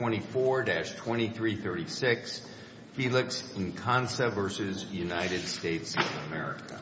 of America.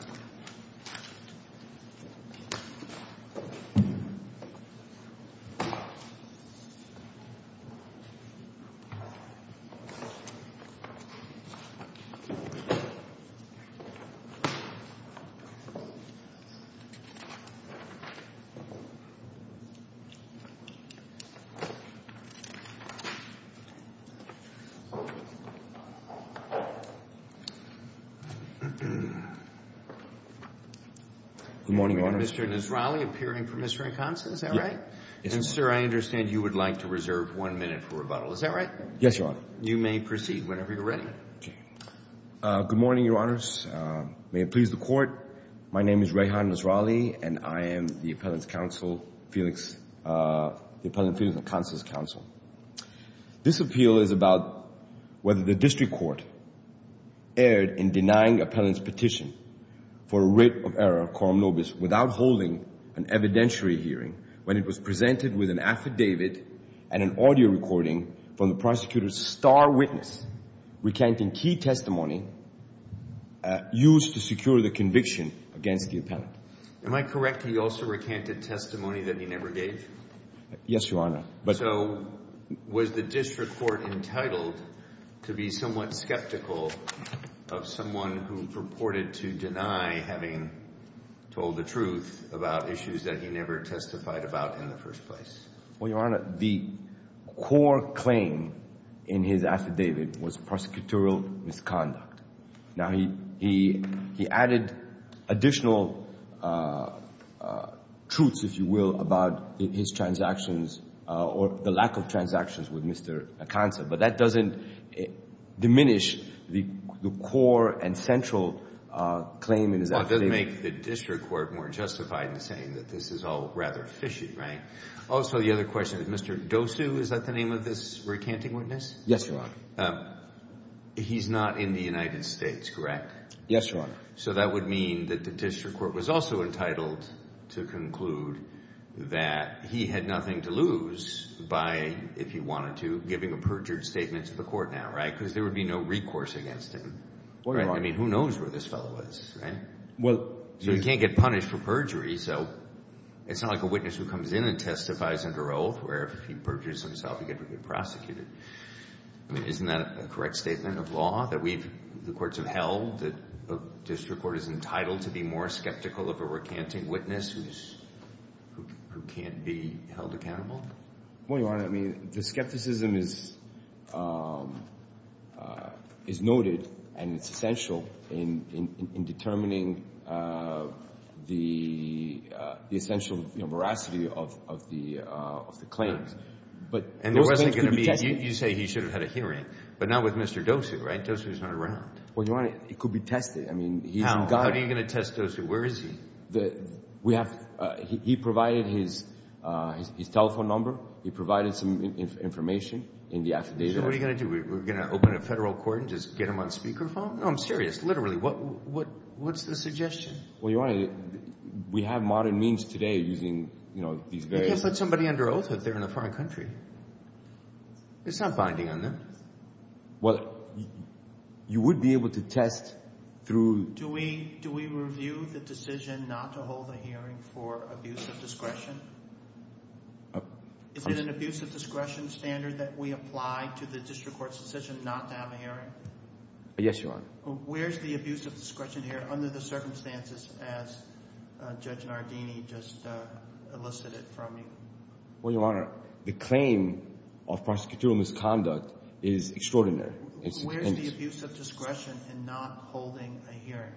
Good morning, Your Honors, may it please the Court, my name is Rehan Nasralli and I appellate counsel of the District Court. This appeal is about whether the District Court erred in denying the appellant's petition for writ of error quorum nobis without holding an evidentiary hearing when it was presented with an affidavit and an audio recording from the prosecutor's star witness recanting key testimony used to secure the conviction against the appellant. Am I correct he also recanted testimony that he never gave? Yes, Your Honor. So was the District Court entitled to be somewhat skeptical of someone who purported to deny having told the truth about issues that he never testified about in the first place? Well, Your Honor, the core claim in his affidavit was prosecutorial misconduct. Now, he added additional truths, if you will, about his transactions or the lack of transactions with Mr. Aconsa, but that doesn't diminish the core and central claim in his affidavit. Well, it doesn't make the District Court more justified in saying that this is all rather fishy, right? Also, the other question, Mr. Dosu, is that the name of this recanting witness? Yes, Your Honor. He's not in the United States, correct? Yes, Your Honor. So that would mean that the District Court was also entitled to conclude that he had nothing to lose by, if he wanted to, giving a perjured statement to the court now, right? Because there would be no recourse against him, right? I mean, who knows where this fellow is, right? Well, you can't get punished for perjury, so it's not like a witness who comes in and testifies under oath where if he perjures himself, he gets to be prosecuted. I mean, isn't that a correct statement of law that we've, the courts have held that a District Court is entitled to be more skeptical of a recanting witness who can't be held accountable? Well, Your Honor, I mean, the skepticism is noted and it's essential in determining the essential veracity of the claims. And there wasn't going to be, you say he should have had a hearing, but not with Mr. Dosu, right? Dosu's not around. Well, Your Honor, it could be tested. I mean, he's a guy. How are you going to test Dosu? Where is he? We have, he provided his telephone number. He provided some information in the affidavit. So what are you going to do? We're going to open a federal court and just get him on speaker phone? No, I'm serious. Literally, what's the suggestion? Well, Your Honor, we have modern means today using, you know, these various. There's somebody under oath out there in a foreign country. It's not binding on them. Well, you would be able to test through. Do we review the decision not to hold a hearing for abuse of discretion? Is it an abuse of discretion standard that we apply to the District Court's decision not to have a hearing? Yes, Your Honor. Where's the abuse of discretion here under the circumstances as Judge Nardini just elicited from you? Well, Your Honor, the claim of prosecutorial misconduct is extraordinary. Where's the abuse of discretion in not holding a hearing?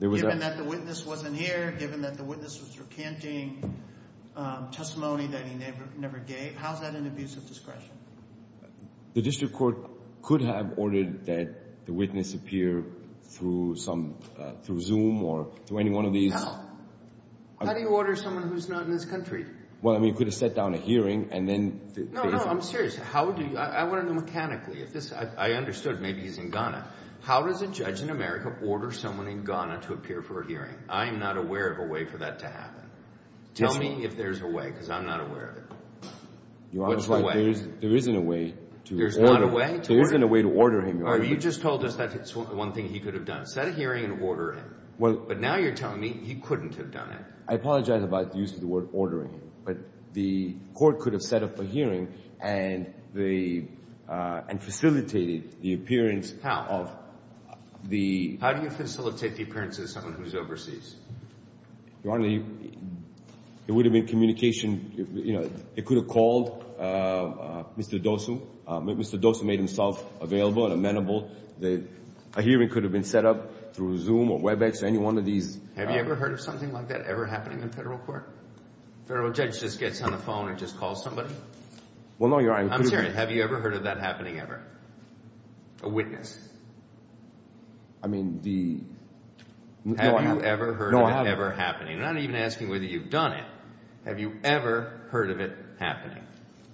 Given that the witness wasn't here, given that the witness was recanting testimony that he never gave, how's that an abuse of discretion? The District Court could have ordered that the witness appear through Zoom or through any one of these... How do you order someone who's not in this country? Well, I mean, you could have set down a hearing and then... No, no, I'm serious. How do you... I want to know mechanically if this... I understood maybe he's in Ghana. How does a judge in America order someone in Ghana to appear for a hearing? I am not aware of a way for that to happen. Tell me if there's a way because I'm not aware of it. Your Honor, it's like there isn't a way to order. There's not a way? There isn't a way to order him, Your Honor. You just told us that's one thing he could have done. Set a hearing and order him. But now you're telling me he couldn't have done it. I apologize about the use of the word ordering, but the court could have set up a hearing and facilitated the appearance of the... How do you facilitate the appearance of someone who's overseas? Your Honor, it would have been communication, you know, they could have called Mr. Dosu. Mr. Dosu made himself available and amenable. A hearing could have been set up through Zoom or WebEx or any one of these. Have you ever heard of something like that ever happening in federal court? Federal judge just gets on the phone and just calls somebody? Well, no, Your Honor. I'm serious. Have you ever heard of that happening ever? A witness? I mean, the... Have you ever heard of it ever happening? I'm not even asking whether you've done it. Have you ever heard of it happening?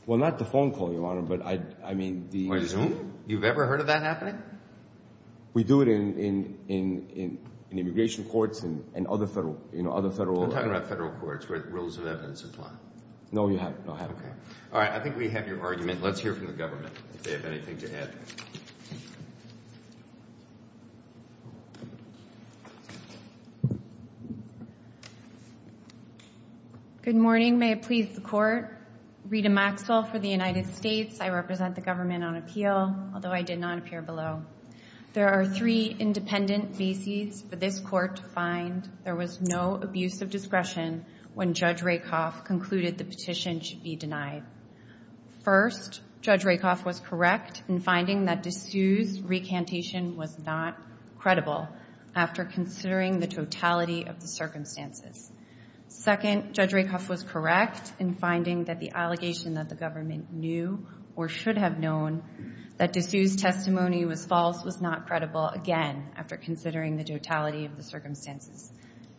Well, not the phone call, Your Honor, but I mean the... Or Zoom? You've ever heard of that happening? We do it in immigration courts and other federal... You know, other federal... I'm talking about federal courts where rules of evidence apply. No, you haven't. No, I haven't. All right. I think we have your argument. Let's hear from the government, if they have anything to add. Good morning. May it please the court. Rita Maxwell for the United States. I represent the government on appeal, although I did not appear below. There are three independent bases for this court to find. There was no abuse of discretion when Judge Rakoff concluded the petition should be denied. First, Judge Rakoff was correct in finding that DeSue's recantation was not credible after considering the totality of the circumstances. Second, Judge Rakoff was correct in finding that the allegation that the government knew or should have known that DeSue's testimony was false was not credible again after considering the totality of the circumstances.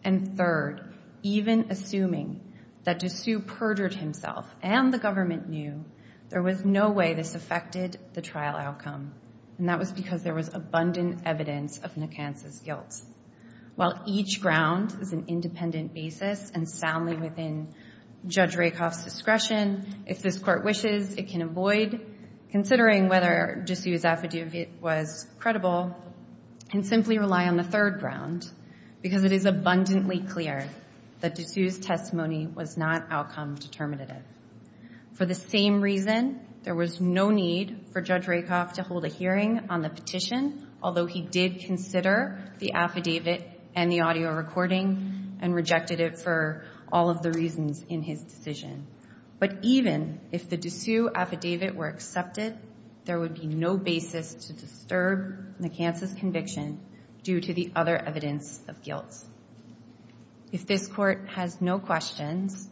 And third, even assuming that DeSue perjured himself and the government knew, there was no way this affected the trial outcome. And that was because there was abundant evidence of Nacanza's guilt. While each ground is an independent basis and soundly within Judge Rakoff's discretion, if this court wishes, it can avoid considering whether DeSue's affidavit was credible and simply rely on the third ground, because it is abundantly clear that DeSue's testimony was not outcome determinative. For the same reason, there was no need for Judge Rakoff to hold a hearing on the petition, although he did consider the affidavit and the audio recording and rejected it for all of the reasons in his decision. But even if the DeSue affidavit were accepted, there would be no basis to disturb Nacanza's conviction due to the other evidence of guilt. If this court has no questions,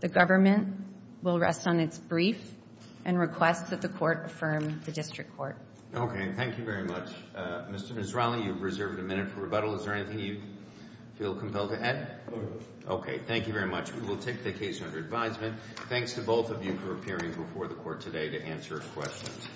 the government will rest on its brief and request that the court affirm the district court. OK, thank you very much. Mr. Mizrahi, you've reserved a minute for rebuttal. Is there anything you feel compelled to add? OK, thank you very much. We will take the case under advisement. Thanks to both of you for appearing before the court today to answer questions.